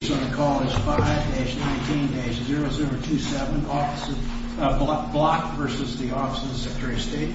5-19-0027 Block v. Office of the Secretary of State 5-19-0027 Block v. Office of the Secretary of State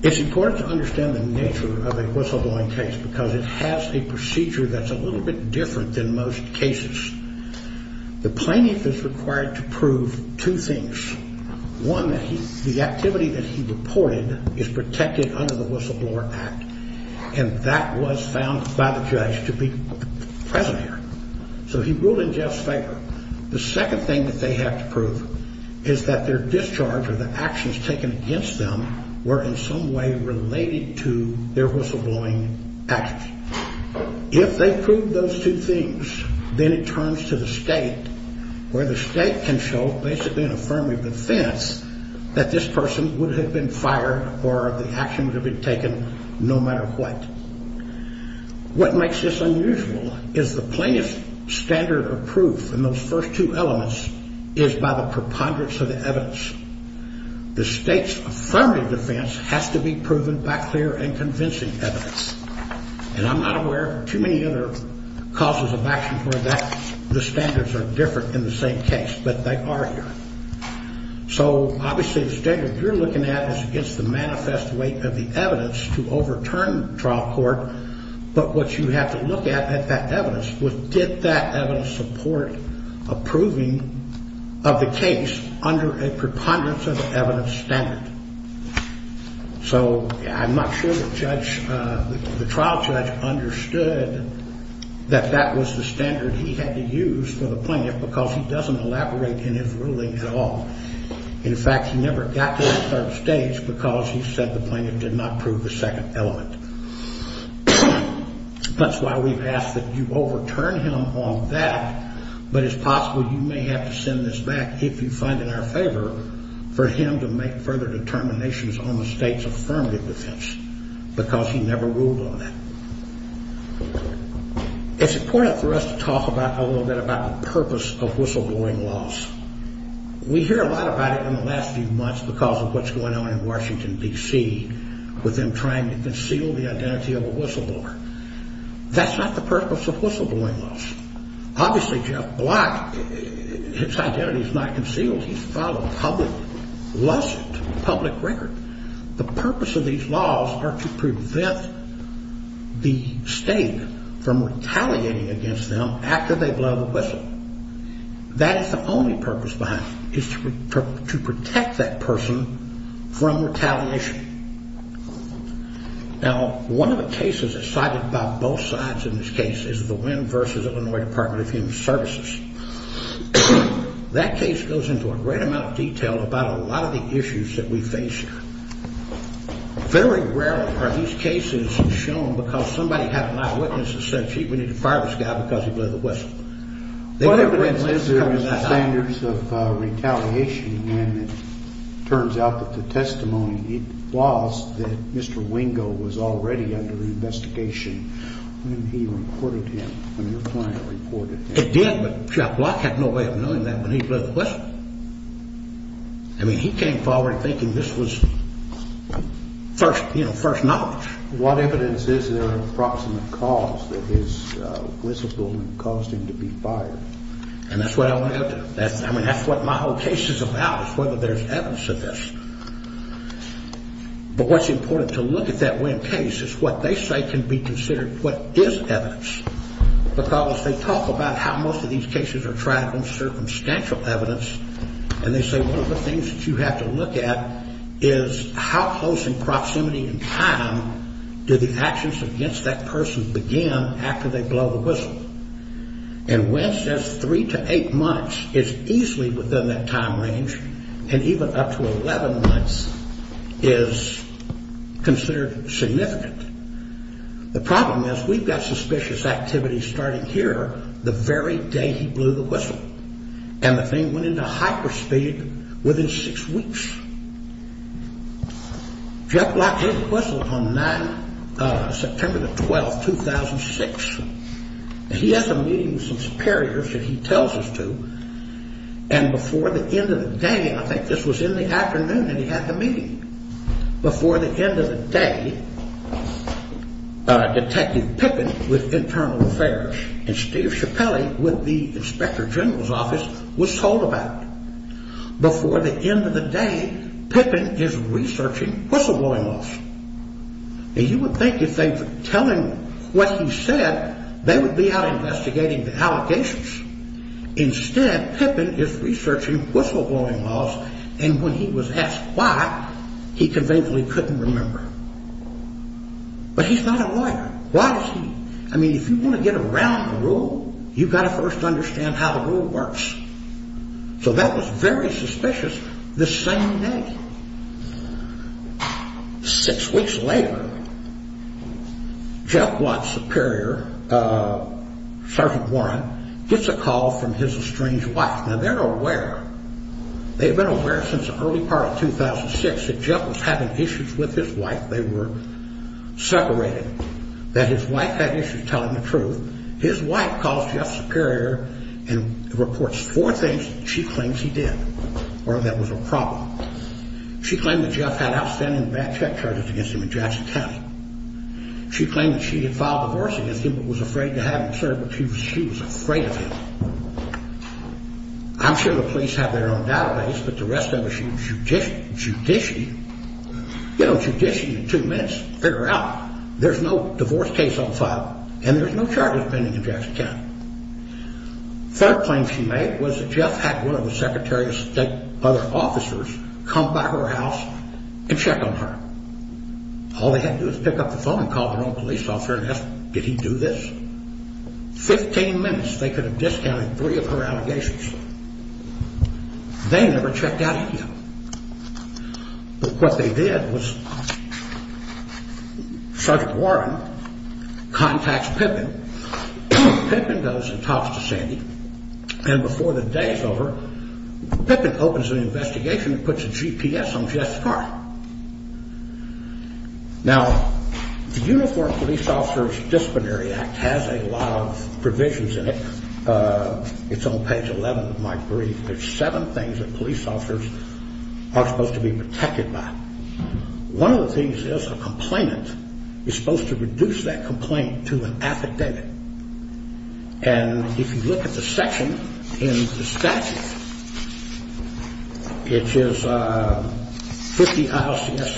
It's important to understand the nature of a whistleblowing case because it has a procedure that's a little bit different than most cases. The plaintiff is required to prove two things. One, the activity that he reported is protected under the Whistleblower Act. And that was found by the judge to be present here. So he ruled in Jeff's favor. The second thing that they have to prove is that their discharge or the actions taken against them were in some way related to their whistleblowing actions. If they proved those two things, then it turns to the state where the state can show basically an affirmative defense that this person would have been fired or the action would have been taken no matter what. What makes this unusual is the plaintiff's standard of proof in those first two elements is by the preponderance of the evidence. The state's affirmative defense has to be proven by clear and convincing evidence. And I'm not aware of too many other causes of action where the standards are different in the same case, but they are here. So obviously the standard you're looking at is against the manifest weight of the evidence to overturn trial court. But what you have to look at that evidence was did that evidence support approving of the case under a preponderance of evidence standard? So I'm not sure the trial judge understood that that was the standard he had to use for the plaintiff because he doesn't elaborate in his ruling at all. In fact, he never got to that third stage because he said the plaintiff did not prove the second element. That's why we've asked that you overturn him on that. But it's possible you may have to send this back if you find it in our favor for him to make further determinations on the state's affirmative defense because he never ruled on that. It's important for us to talk a little bit about the purpose of whistleblowing laws. We hear a lot about it in the last few months because of what's going on in Washington, D.C., with them trying to conceal the identity of a whistleblower. That's not the purpose of whistleblowing laws. Obviously, Jeff Block, his identity is not concealed. He's filed a public lawsuit, public record. The purpose of these laws are to prevent the state from retaliating against them after they blow the whistle. That is the only purpose behind them is to protect that person from retaliation. Now, one of the cases cited by both sides in this case is the Wynn v. Illinois Department of Human Services. That case goes into a great amount of detail about a lot of the issues that we face here. Very rarely are these cases shown because somebody had an eyewitness who said, gee, we need to fire this guy because he blew the whistle. What evidence is there of standards of retaliation when it turns out that the testimony he lost that Mr. Wingo was already under investigation when he reported him, when your client reported him? It did, but Jeff Block had no way of knowing that when he blew the whistle. I mean, he came forward thinking this was, you know, first knowledge. What evidence is there of a proximate cause that his whistle blowing caused him to be fired? And that's what I want to get to. I mean, that's what my whole case is about is whether there's evidence of this. But what's important to look at that Wynn case is what they say can be considered what is evidence, because they talk about how most of these cases are tried on circumstantial evidence, and they say one of the things that you have to look at is how close in proximity and time do the actions against that person begin after they blow the whistle. And Wynn says three to eight months is easily within that time range, and even up to 11 months is considered significant. The problem is we've got suspicious activity starting here the very day he blew the whistle. And the thing went into hyperspeed within six weeks. Jeff Block blew the whistle on September the 12th, 2006. He has a meeting with some superiors that he tells us to, and before the end of the day, I think this was in the afternoon that he had the meeting, before the end of the day, Detective Pippin with Internal Affairs and Steve Ciappelli with the Inspector General's office was told about it. Before the end of the day, Pippin is researching whistleblowing laws. And you would think if they were telling what he said, they would be out investigating the allegations. Instead, Pippin is researching whistleblowing laws, and when he was asked why, he conveniently couldn't remember. But he's not a lawyer. Why is he? I mean, if you want to get around the rule, you've got to first understand how the rule works. So that was very suspicious the same day. Six weeks later, Jeff Block's superior, Sergeant Warren, gets a call from his estranged wife. Now, they're aware. They've been aware since the early part of 2006 that Jeff was having issues with his wife. They were separated. That his wife had issues telling the truth. His wife calls Jeff's superior and reports four things she claims he did or that was a problem. She claimed that Jeff had outstanding bad check charges against him in Jackson County. She claimed that she had filed a divorce against him but was afraid to have him served because she was afraid of him. I'm sure the police have their own database, but the rest of us should judicially, you know, judicially in two minutes figure out. There's no divorce case on file, and there's no charges pending in Jackson County. Third claim she made was that Jeff had one of the Secretary of State's other officers come by her house and check on her. All they had to do was pick up the phone and call their own police officer and ask, did he do this? Fifteen minutes, they could have discounted three of her allegations. They never checked out of here. But what they did was Sergeant Warren contacts Pippin. Pippin goes and talks to Sandy, and before the day is over, Pippin opens an investigation and puts a GPS on Jeff's car. Now, the Uniformed Police Officers Disciplinary Act has a lot of provisions in it. It's on page 11 of my brief. There's seven things that police officers are supposed to be protected by. One of the things is a complainant is supposed to reduce that complaint to an affidavit. And if you look at the section in the statute, which is 50 ILCS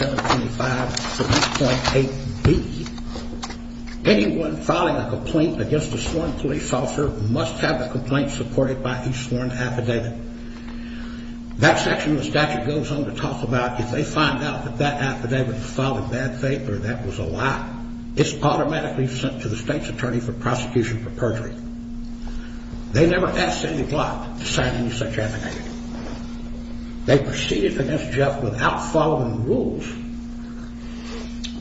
725.8B, anyone filing a complaint against a sworn police officer must have a complaint supported by a sworn affidavit. That section of the statute goes on to talk about if they find out that that affidavit was filed in bad faith or that was a lie, it's automatically sent to the state's attorney for prosecution for perjury. They never asked Sandy Glott to sign any such affidavit. They proceeded against Jeff without following the rules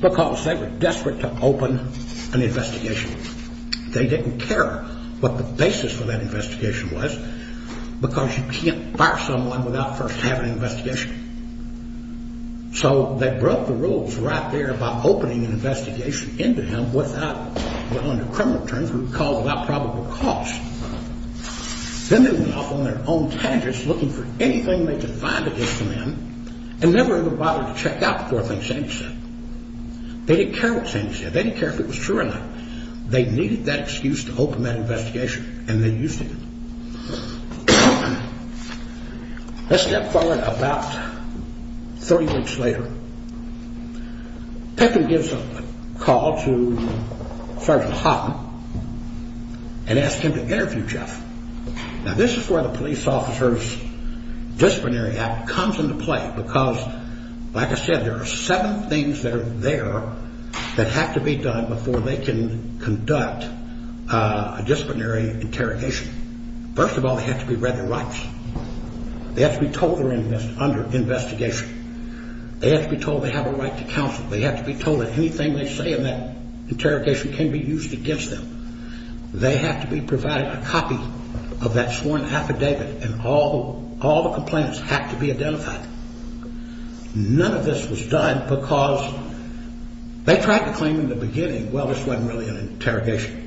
because they were desperate to open an investigation. They didn't care what the basis for that investigation was because you can't fire someone without first having an investigation. So they broke the rules right there by opening an investigation into him without, well, under criminal terms, we would call it without probable cause. Then they went off on their own tangents looking for anything they could find against a man and never even bothered to check out before they found Sandy said. They didn't care what Sandy said. They didn't care if it was true or not. They needed that excuse to open that investigation, and they used it. A step forward about 30 weeks later, Pickham gives a call to Sergeant Houghton and asks him to interview Jeff. Now, this is where the Police Officers' Disciplinary Act comes into play because, like I said, there are seven things that are there that have to be done before they can conduct a disciplinary interrogation. First of all, they have to be read their rights. They have to be told they're under investigation. They have to be told they have a right to counsel. They have to be told that anything they say in that interrogation can be used against them. They have to be provided a copy of that sworn affidavit, and all the complaints have to be identified. None of this was done because they tried to claim in the beginning, well, this wasn't really an interrogation.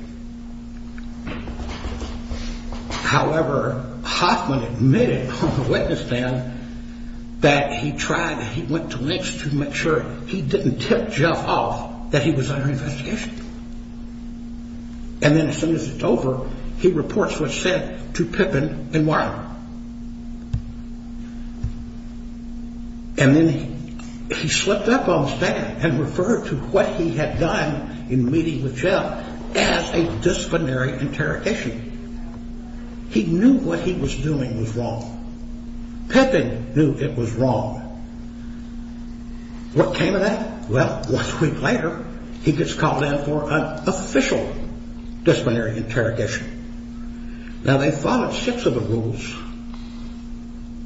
However, Houghton admitted on the witness stand that he tried, he went to lengths to make sure he didn't tip Jeff off that he was under investigation. And then as soon as it's over, he reports what's said to Pickham and Wiley. And then he slipped up on his back and referred to what he had done in meeting with Jeff as a disciplinary interrogation. He knew what he was doing was wrong. Pickham knew it was wrong. What came of that? Well, one week later, he gets called in for an official disciplinary interrogation. Now, they followed six of the rules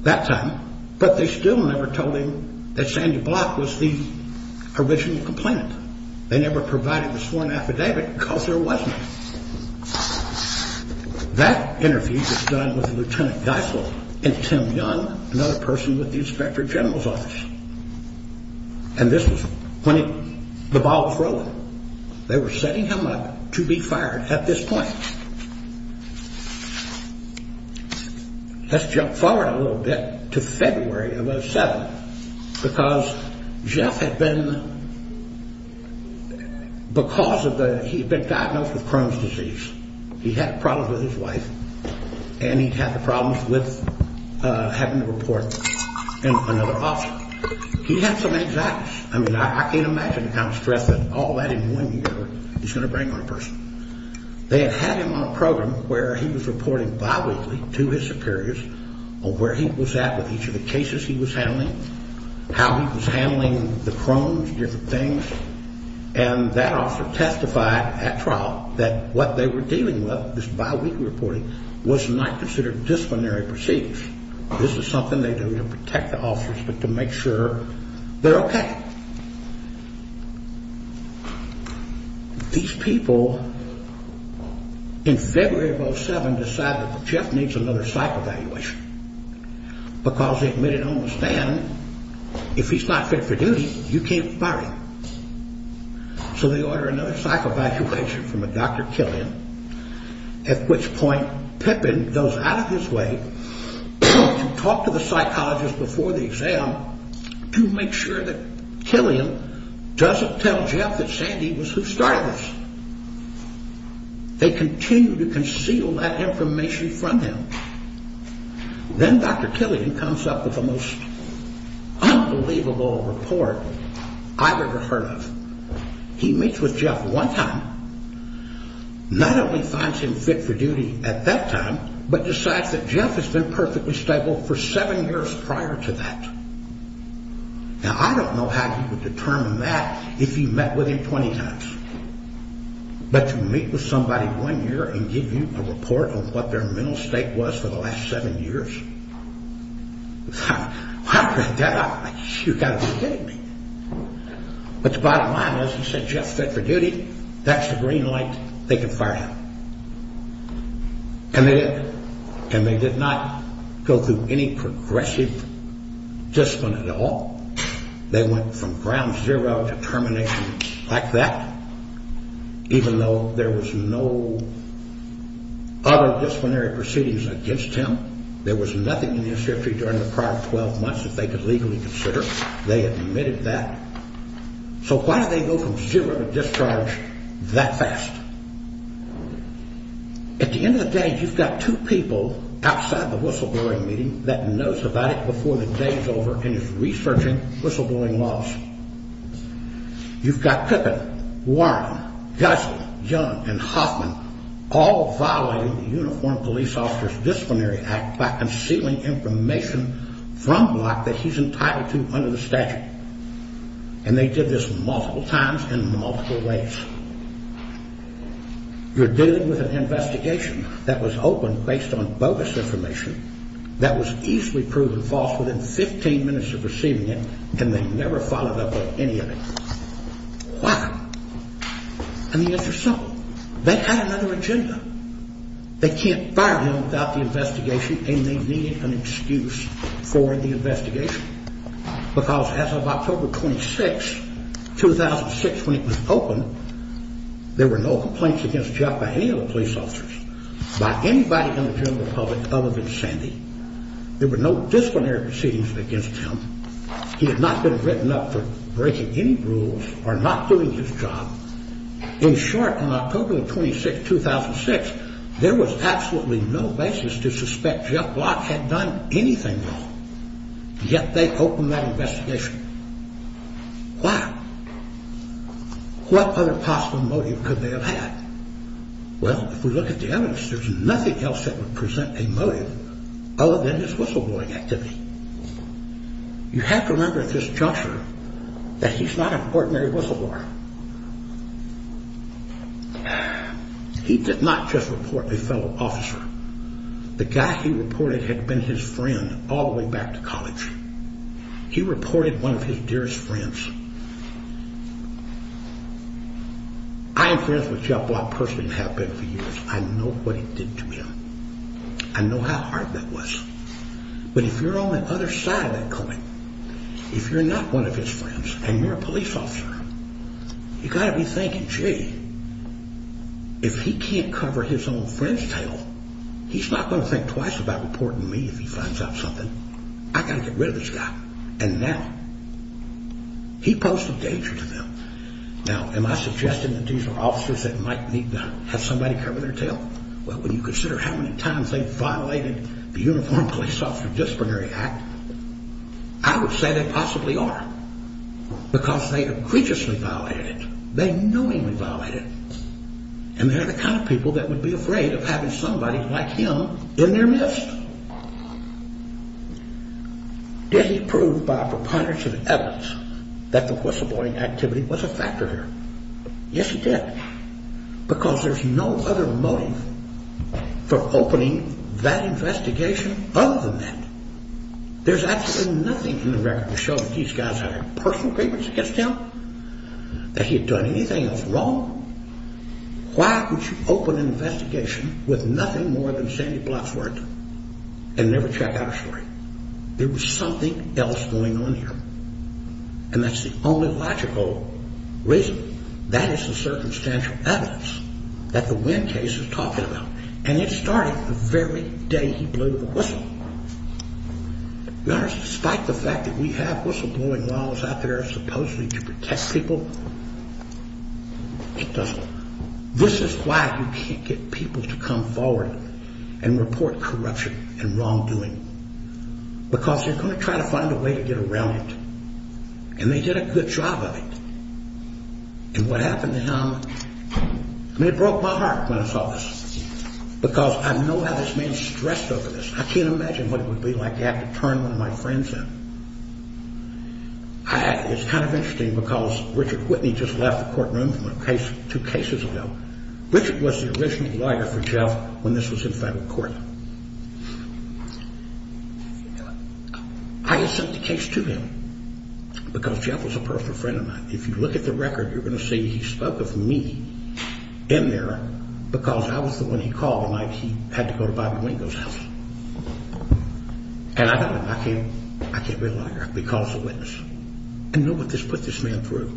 that time, but they still never told him that Sandy Block was the original complainant. They never provided the sworn affidavit because there wasn't. That interview was done with Lieutenant Geisel and Tim Young, another person with the inspector general's office. And this was when the ball was rolling. They were setting him up to be fired at this point. Let's jump forward a little bit to February of 2007, because Jeff had been, because of the, he had been diagnosed with Crohn's disease. He had problems with his wife and he had the problems with having to report another officer. He had some anxieties. I mean, I can't imagine the kind of stress that all that in one year is going to bring on a person. They had had him on a program where he was reporting biweekly to his superiors on where he was at with each of the cases he was handling, how he was handling the Crohn's, different things. And that officer testified at trial that what they were dealing with, this biweekly reporting, was not considered disciplinary proceedings. This is something they do to protect the officers but to make sure they're okay. These people in February of 2007 decided that Jeff needs another psych evaluation because they admitted on the stand, if he's not fit for duty, you can't fire him. So they order another psych evaluation from Dr. Killian, at which point Pippin goes out of his way to talk to the psychologist before the exam to make sure that Killian doesn't tell Jeff that Sandy was who started this. They continue to conceal that information from him. Then Dr. Killian comes up with the most unbelievable report I've ever heard of. He meets with Jeff one time, not only finds him fit for duty at that time, but decides that Jeff has been perfectly stable for seven years prior to that. Now, I don't know how he would determine that if he met with him 20 times. But to meet with somebody one year and give you a report on what their mental state was for the last seven years, I read that out like, you've got to be kidding me. But the bottom line is, he said, Jeff's fit for duty, that's the green light, they can fire him. And they did. And they did not go through any progressive discipline at all. They went from ground zero to termination like that, even though there was no other disciplinary proceedings against him. There was nothing in the insurgency during the prior 12 months that they could legally consider. They admitted that. So why did they go from zero to discharge that fast? At the end of the day, you've got two people outside the whistleblowing meeting that knows about it before the day is over and is researching whistleblowing laws. You've got Kippen, Warren, Guzman, Young, and Hoffman all violating the Uniformed Police Officers Disciplinary Act by concealing information from Block that he's entitled to under the statute. And they did this multiple times in multiple ways. You're dealing with an investigation that was open based on bogus information that was easily proven false within 15 minutes of receiving it, and they never followed up with any of it. Why? And the answer is simple. They had another agenda. They can't fire him without the investigation, and they needed an excuse for the investigation. Because as of October 26, 2006, when it was open, there were no complaints against Jeff by any of the police officers, by anybody in the general public other than Sandy. There were no disciplinary proceedings against him. He had not been written up for breaking any rules or not doing his job. In short, on October 26, 2006, there was absolutely no basis to suspect Jeff Block had done anything wrong. Yet they opened that investigation. Why? What other possible motive could they have had? Well, if we look at the evidence, there's nothing else that would present a motive other than his whistleblowing activity. You have to remember at this juncture that he's not an ordinary whistleblower. He did not just report a fellow officer. The guy he reported had been his friend all the way back to college. He reported one of his dearest friends. I am friends with Jeff Block personally and have been for years. I know what he did to him. I know how hard that was. But if you're on the other side of that coin, if you're not one of his friends and you're a police officer, you've got to be thinking, gee, if he can't cover his own friend's tail, he's not going to think twice about reporting me if he finds out something. I've got to get rid of this guy. And now he poses a danger to them. Now, am I suggesting that these are officers that might need to have somebody cover their tail? Well, when you consider how many times they've violated the Uniformed Police Officer Disciplinary Act, I would say they possibly are because they have graciously violated it. They knowingly violated it. And they're the kind of people that would be afraid of having somebody like him in their midst. Did he prove by a preponderance of evidence that the whistleblowing activity was a factor here? Yes, he did. Because there's no other motive for opening that investigation other than that. There's absolutely nothing in the record to show that these guys had a personal grievance against him, that he had done anything that was wrong. Why would you open an investigation with nothing more than sandy blocks worth and never check out a story? There was something else going on here. And that's the only logical reason. That is the circumstantial evidence that the Wynn case is talking about. And it started the very day he blew the whistle. Your Honor, despite the fact that we have whistleblowing laws out there supposedly to protect people, it doesn't. This is why you can't get people to come forward and report corruption and wrongdoing. Because they're going to try to find a way to get around it. And they did a good job of it. And what happened to him, I mean, it broke my heart when I saw this. Because I know how this man's stressed over this. I can't imagine what it would be like to have to turn one of my friends in. It's kind of interesting because Richard Whitney just left the courtroom two cases ago. Richard was the original lawyer for Jeff when this was in federal court. I had sent the case to him because Jeff was a personal friend of mine. If you look at the record, you're going to see he spoke of me in there because I was the one he called the night he had to go to Bobby Wingo's house. And I thought, I can't be a liar because of this. I know what this put this man through.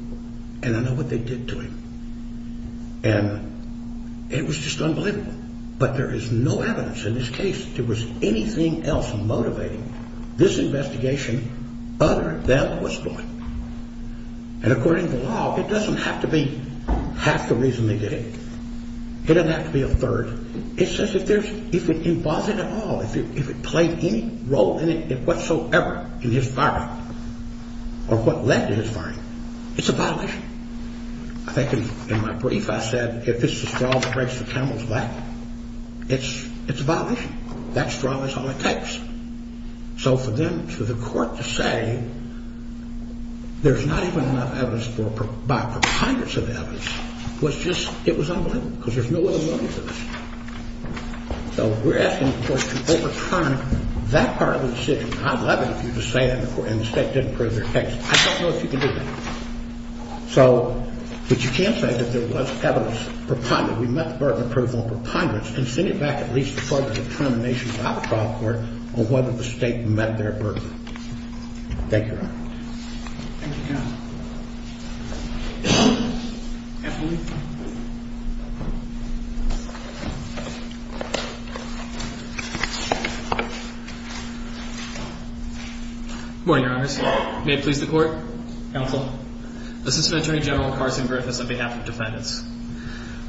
And I know what they did to him. And it was just unbelievable. But there is no evidence in this case that there was anything else motivating this investigation other than whistleblowing. And according to the law, it doesn't have to be half the reason they did it. It doesn't have to be a third. It says if it involved it at all, if it played any role in it whatsoever in his firing or what led to his firing, it's a violation. I think in my brief, I said if this is a straw that breaks the camel's back, it's a violation. That straw is all it takes. So for them to the court to say there's not even enough evidence, hundreds of evidence, was just, it was unbelievable. Because there's no other motive for this. So we're asking the court to overturn that part of the decision. I'd love it if you just say that in the court and the state didn't prove their case. I don't know if you can do that. So, but you can't say that there was evidence. We met the burden of proof on preponderance and send it back at least before the determination by the trial court on whether the state met their burden. Thank you, Your Honor. Thank you, Your Honor. Good morning, Your Honors. May it please the court. Counsel. Assistant Attorney General Carson Griffiths on behalf of defendants.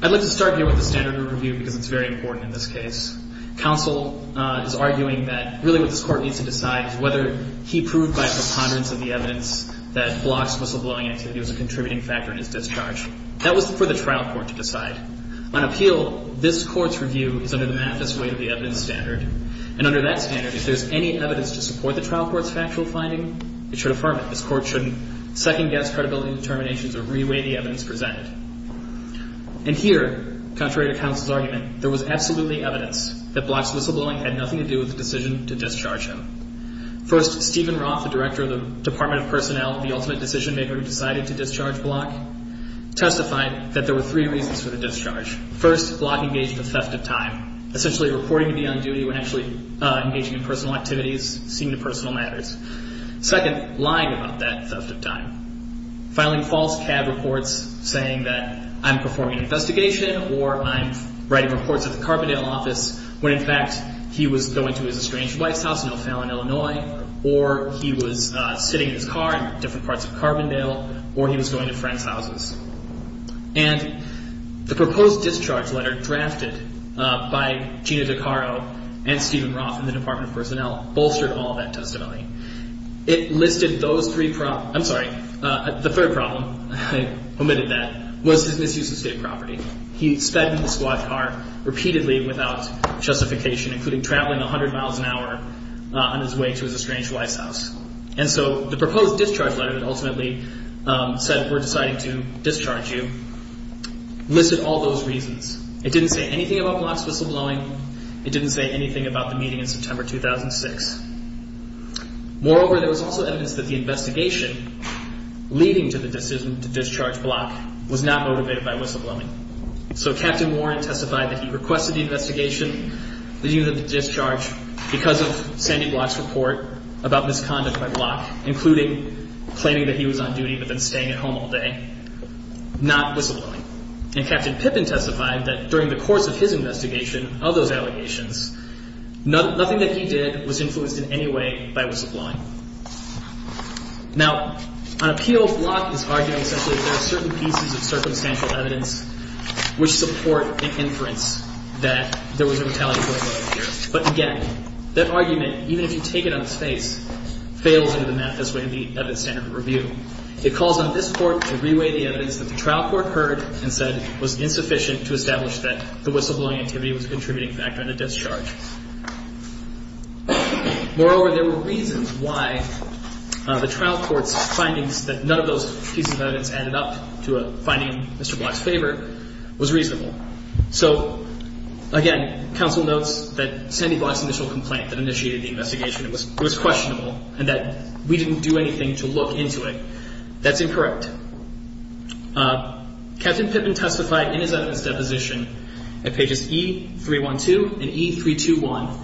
I'd like to start here with the standard of review because it's very important in this case. Counsel is arguing that really what this court needs to decide is whether he proved by preponderance of the evidence that blocks whistleblowing activity was a contributing factor in his discharge. That was for the trial court to decide. On appeal, this court's review is under the Mathis way of the evidence standard. And under that standard, if there's any evidence to support the trial court's factual finding, it should affirm it. This court shouldn't second-guess credibility determinations or re-weigh the evidence presented. And here, contrary to counsel's argument, there was absolutely evidence that blocks whistleblowing had nothing to do with the decision to discharge him. First, Stephen Roth, the director of the Department of Personnel, the ultimate decision-maker who decided to discharge Block, testified that there were three reasons for the discharge. First, Block engaged in a theft of time, essentially reporting to be on duty when actually engaging in personal activities, seeing to personal matters. Second, lying about that theft of time. Filing false cab reports saying that I'm performing an investigation or I'm writing reports at the Carbondale office when, in fact, he was going to his estranged wife's house in O'Fallon, Illinois, or he was sitting in his car in different parts of Carbondale, or he was going to friends' houses. And the proposed discharge letter drafted by Gina DeCaro and Stephen Roth and the Department of Personnel bolstered all that testimony. It listed those three problems. I'm sorry. The third problem, I omitted that, was his misuse of state property. He sped into the squad car repeatedly without justification, including traveling 100 miles an hour on his way to his estranged wife's house. And so the proposed discharge letter that ultimately said we're deciding to discharge you listed all those reasons. It didn't say anything about blocks whistleblowing. It didn't say anything about the meeting in September 2006. Moreover, there was also evidence that the investigation leading to the decision to discharge Block was not motivated by whistleblowing. So Captain Warren testified that he requested the investigation leading to the discharge because of Sandy Block's report about misconduct by Block, including claiming that he was on duty but then staying at home all day, not whistleblowing. And Captain Pippin testified that during the course of his investigation of those allegations, nothing that he did was influenced in any way by whistleblowing. Now, on appeal, Block is arguing essentially that there are certain pieces of circumstantial evidence which support an inference that there was a retaliatory motive here. But again, that argument, even if you take it on its face, fails under the MAFIS-Randy Evidence-Centered Review. It calls on this Court to reweigh the evidence that the trial court heard and said was insufficient to establish that the whistleblowing activity was a contributing factor in the discharge. Moreover, there were reasons why the trial court's findings that none of those pieces of evidence added up to a finding in Mr. Block's favor was reasonable. So again, counsel notes that Sandy Block's initial complaint that initiated the investigation was questionable and that we didn't do anything to look into it. That's incorrect. Captain Pippin testified in his evidence deposition at pages E312 and E321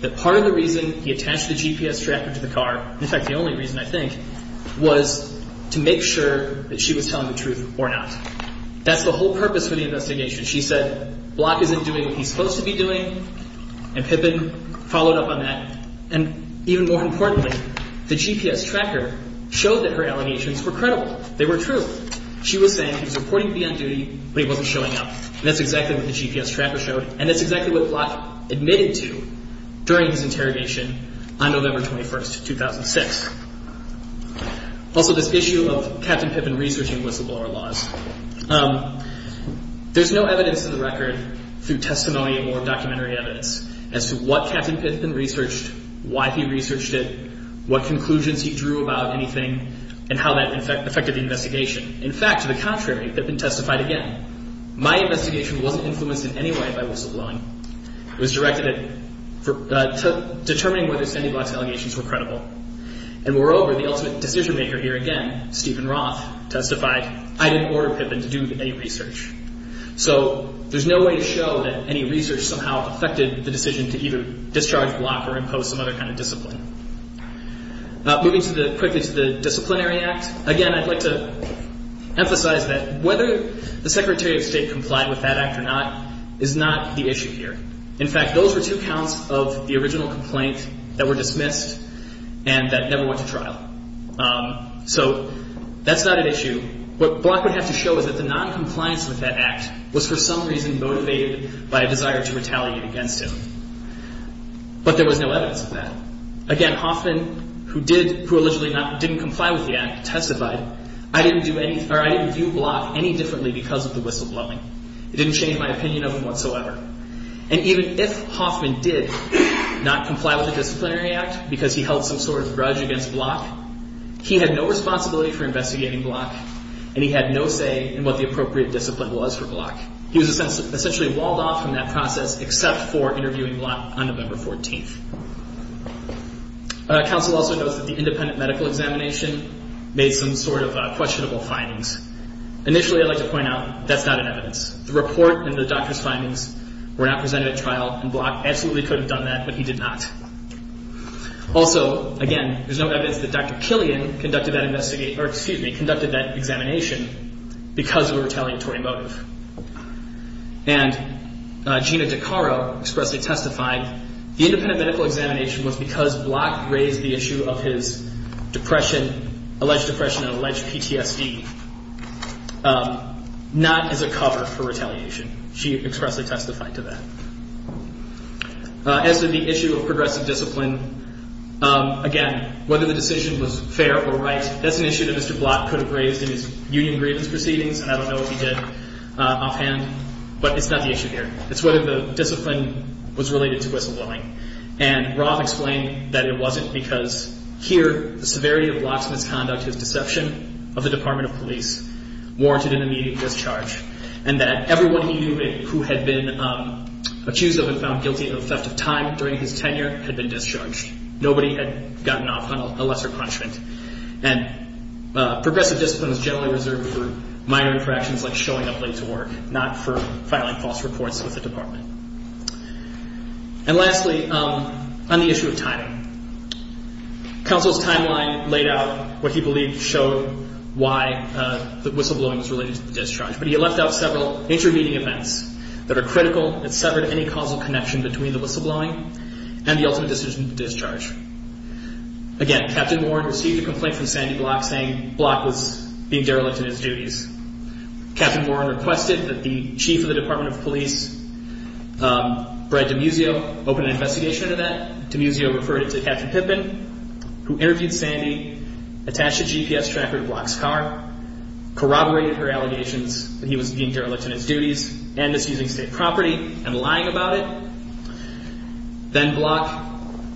that part of the reason he attached the GPS tracker to the car, in fact, the only reason, I think, was to make sure that she was telling the truth or not. That's the whole purpose for the investigation. She said Block isn't doing what he's supposed to be doing, and Pippin followed up on that. And even more importantly, the GPS tracker showed that her allegations were credible. They were true. She was saying he was reportedly on duty, but he wasn't showing up, and that's exactly what the GPS tracker showed, and that's exactly what Block admitted to during his interrogation on November 21, 2006. Also, this issue of Captain Pippin researching whistleblower laws. There's no evidence in the record through testimony or documentary evidence as to what Captain Pippin researched, why he researched it, what conclusions he drew about anything, and how that affected the investigation. In fact, to the contrary, Pippin testified again. My investigation wasn't influenced in any way by whistleblowing. It was directed at determining whether Sandy Block's allegations were credible. And moreover, the ultimate decision-maker here again, Stephen Roth, testified, I didn't order Pippin to do any research. So there's no way to show that any research somehow affected the decision to either discharge Block or impose some other kind of discipline. Moving quickly to the Disciplinary Act. Again, I'd like to emphasize that whether the Secretary of State complied with that act or not is not the issue here. In fact, those were two counts of the original complaint that were dismissed and that never went to trial. So that's not an issue. What Block would have to show is that the noncompliance with that act was for some reason motivated by a desire to retaliate against him. But there was no evidence of that. Again, Hoffman, who did, who allegedly didn't comply with the act, testified, I didn't view Block any differently because of the whistleblowing. It didn't change my opinion of him whatsoever. And even if Hoffman did not comply with the Disciplinary Act because he held some sort of grudge against Block, he had no responsibility for investigating Block, and he had no say in what the appropriate discipline was for Block. He was essentially walled off from that process except for interviewing Block on November 14th. Council also notes that the independent medical examination made some sort of questionable findings. Initially, I'd like to point out that's not in evidence. The report and the doctor's findings were not presented at trial, and Block absolutely could have done that, but he did not. Also, again, there's no evidence that Dr. Killian conducted that investigation, or, excuse me, conducted that examination because of a retaliatory motive. And Gina DeCaro expressly testified, the independent medical examination was because Block raised the issue of his depression, alleged depression and alleged PTSD, not as a cover for retaliation. She expressly testified to that. As to the issue of progressive discipline, again, whether the decision was fair or right, that's an issue that Mr. Block could have raised in his union grievance proceedings, and I don't know if he did offhand, but it's not the issue here. It's whether the discipline was related to whistleblowing. And Rob explained that it wasn't because, here, the severity of Block's misconduct, his deception of the Department of Police warranted an immediate discharge, and that everyone he knew who had been accused of and found guilty of the theft of time during his tenure had been discharged. Nobody had gotten off on a lesser punishment. And progressive discipline is generally reserved for minor interactions like showing up late to work, not for filing false reports with the department. And lastly, on the issue of timing, counsel's timeline laid out what he believed showed why the whistleblowing was related to the discharge, but he left out several intervening events that are critical and severed any causal connection between the whistleblowing and the ultimate decision to discharge. Again, Captain Warren received a complaint from Sandy Block saying Block was being derelict in his duties. Captain Warren requested that the chief of the Department of Police, Brad DiMuzio, open an investigation into that. DiMuzio referred it to Captain Pippin, who interviewed Sandy, attached a GPS tracker to Block's car, corroborated her allegations that he was being derelict in his duties and misusing state property and lying about it. Then Block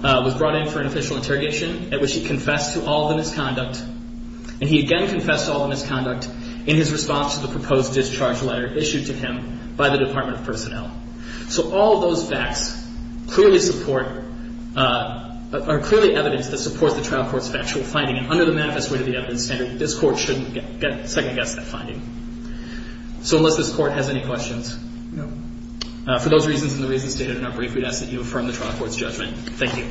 was brought in for an official interrogation at which he confessed to all the misconduct. And he again confessed to all the misconduct in his response to the proposed discharge letter issued to him by the Department of Personnel. So all those facts clearly support, are clearly evidence that supports the trial court's factual finding. And under the manifest way to the evidence standard, this court shouldn't second-guess that finding. So unless this court has any questions. No. For those reasons and the reasons stated in our brief, we'd ask that you affirm the trial court's judgment. Thank you.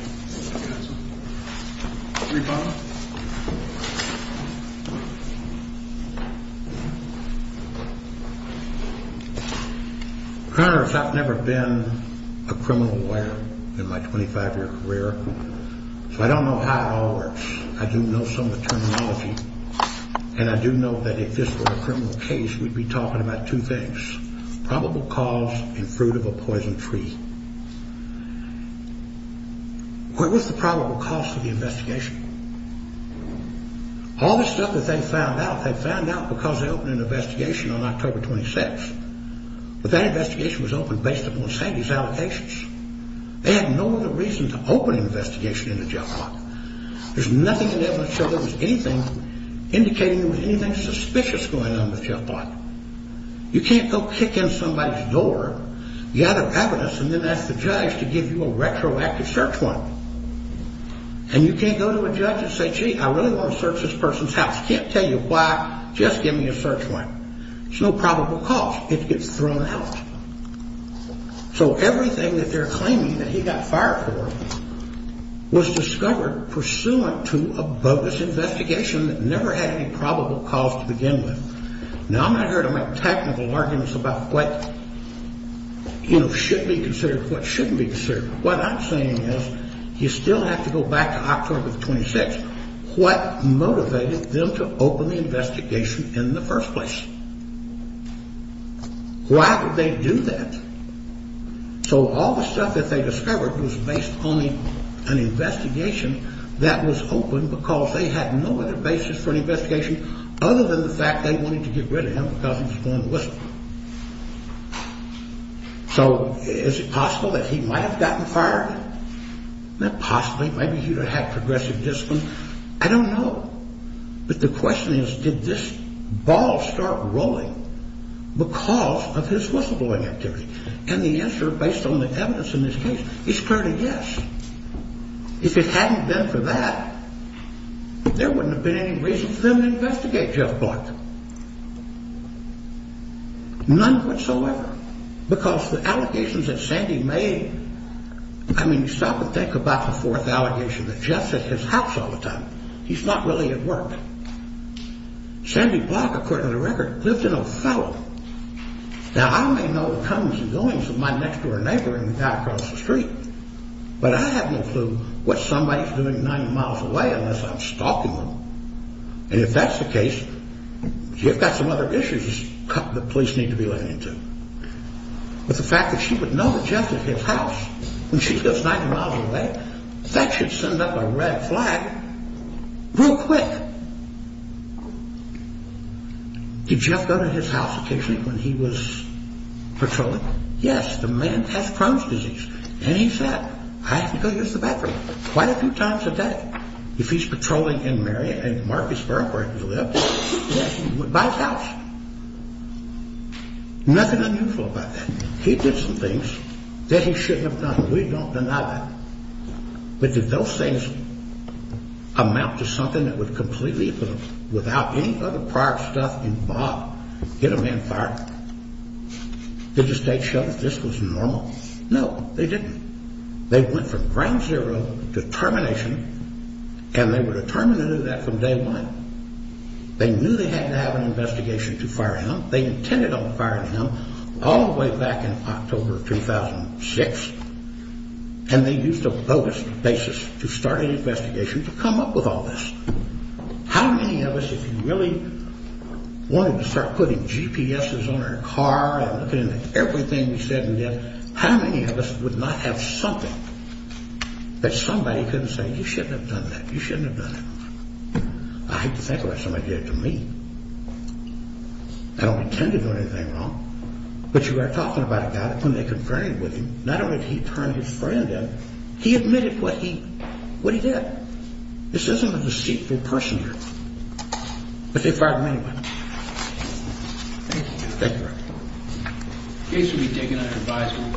Your Honor. Your Honor, as a matter of fact, I've never been a criminal lawyer in my 25-year career. So I don't know how it all works. I do know some of the terminology. And I do know that if this were a criminal case, we'd be talking about two things, probable cause and fruit of a poison tree. What was the probable cause of the investigation? All the stuff that they found out, they found out because they opened an investigation on October 26th. But that investigation was opened based upon Sandy's allocations. They had no other reason to open an investigation into Jeff Block. There's nothing in the evidence showing there was anything indicating there was anything suspicious going on with Jeff Block. You can't go kick in somebody's door, gather evidence, and then ask the judge to give you a retroactive search warrant. And you can't go to a judge and say, gee, I really want to search this person's house. He can't tell you why, just give me a search warrant. There's no probable cause. It gets thrown out. So everything that they're claiming that he got fired for was discovered pursuant to a bogus investigation that never had any probable cause to begin with. Now, I'm not here to make technical arguments about what should be considered, what shouldn't be considered. What I'm saying is you still have to go back to October 26th. What motivated them to open the investigation in the first place? Why would they do that? So all the stuff that they discovered was based on an investigation that was opened because they had no other basis for an investigation other than the fact they wanted to get rid of him because he was going to whistle. So is it possible that he might have gotten fired? Not possibly. Maybe he would have had progressive discipline. I don't know. But the question is, did this ball start rolling because of his whistleblowing activity? And the answer, based on the evidence in this case, is clearly yes. If it hadn't been for that, there wouldn't have been any reason for them to investigate Jeff Block. None whatsoever. Because the allegations that Sandy made, I mean, stop and think about the fourth allegation that Jeff's at his house all the time. He's not really at work. Sandy Block, according to the record, lived in Othello. Now, I may know the comes and goings of my next-door neighbor and the guy across the street, but I have no clue what somebody's doing 90 miles away unless I'm stalking them. And if that's the case, you've got some other issues the police need to be laying into. But the fact that she would know that Jeff is at his house when she goes 90 miles away, that should send up a red flag real quick. Did Jeff go to his house occasionally when he was patrolling? Yes. The man has Crohn's disease. And he said, I have to go use the bathroom quite a few times a day. If he's patrolling in Marion, in Marcusburg, where he lived, he would buy a couch. Nothing unusual about that. He did some things that he shouldn't have done. We don't deny that. But did those things amount to something that would completely, without any other prior stuff involved, get a man fired? Did the state show that this was normal? No, they didn't. They went from ground zero to termination, and they were determined to do that from day one. They knew they had to have an investigation to fire him. They intended on firing him all the way back in October of 2006. And they used a bogus basis to start an investigation to come up with all this. How many of us, if you really wanted to start putting GPSs on our car and looking at everything we said and did, how many of us would not have something that somebody couldn't say, you shouldn't have done that, you shouldn't have done that? I hate to think about somebody did it to me. I don't intend to do anything wrong. But you are talking about it now when they conferred with him. Not only did he turn his friend in, he admitted what he did. This isn't a deceitful person here. But they fired him anyway. Thank you. The case will be taken under advisory.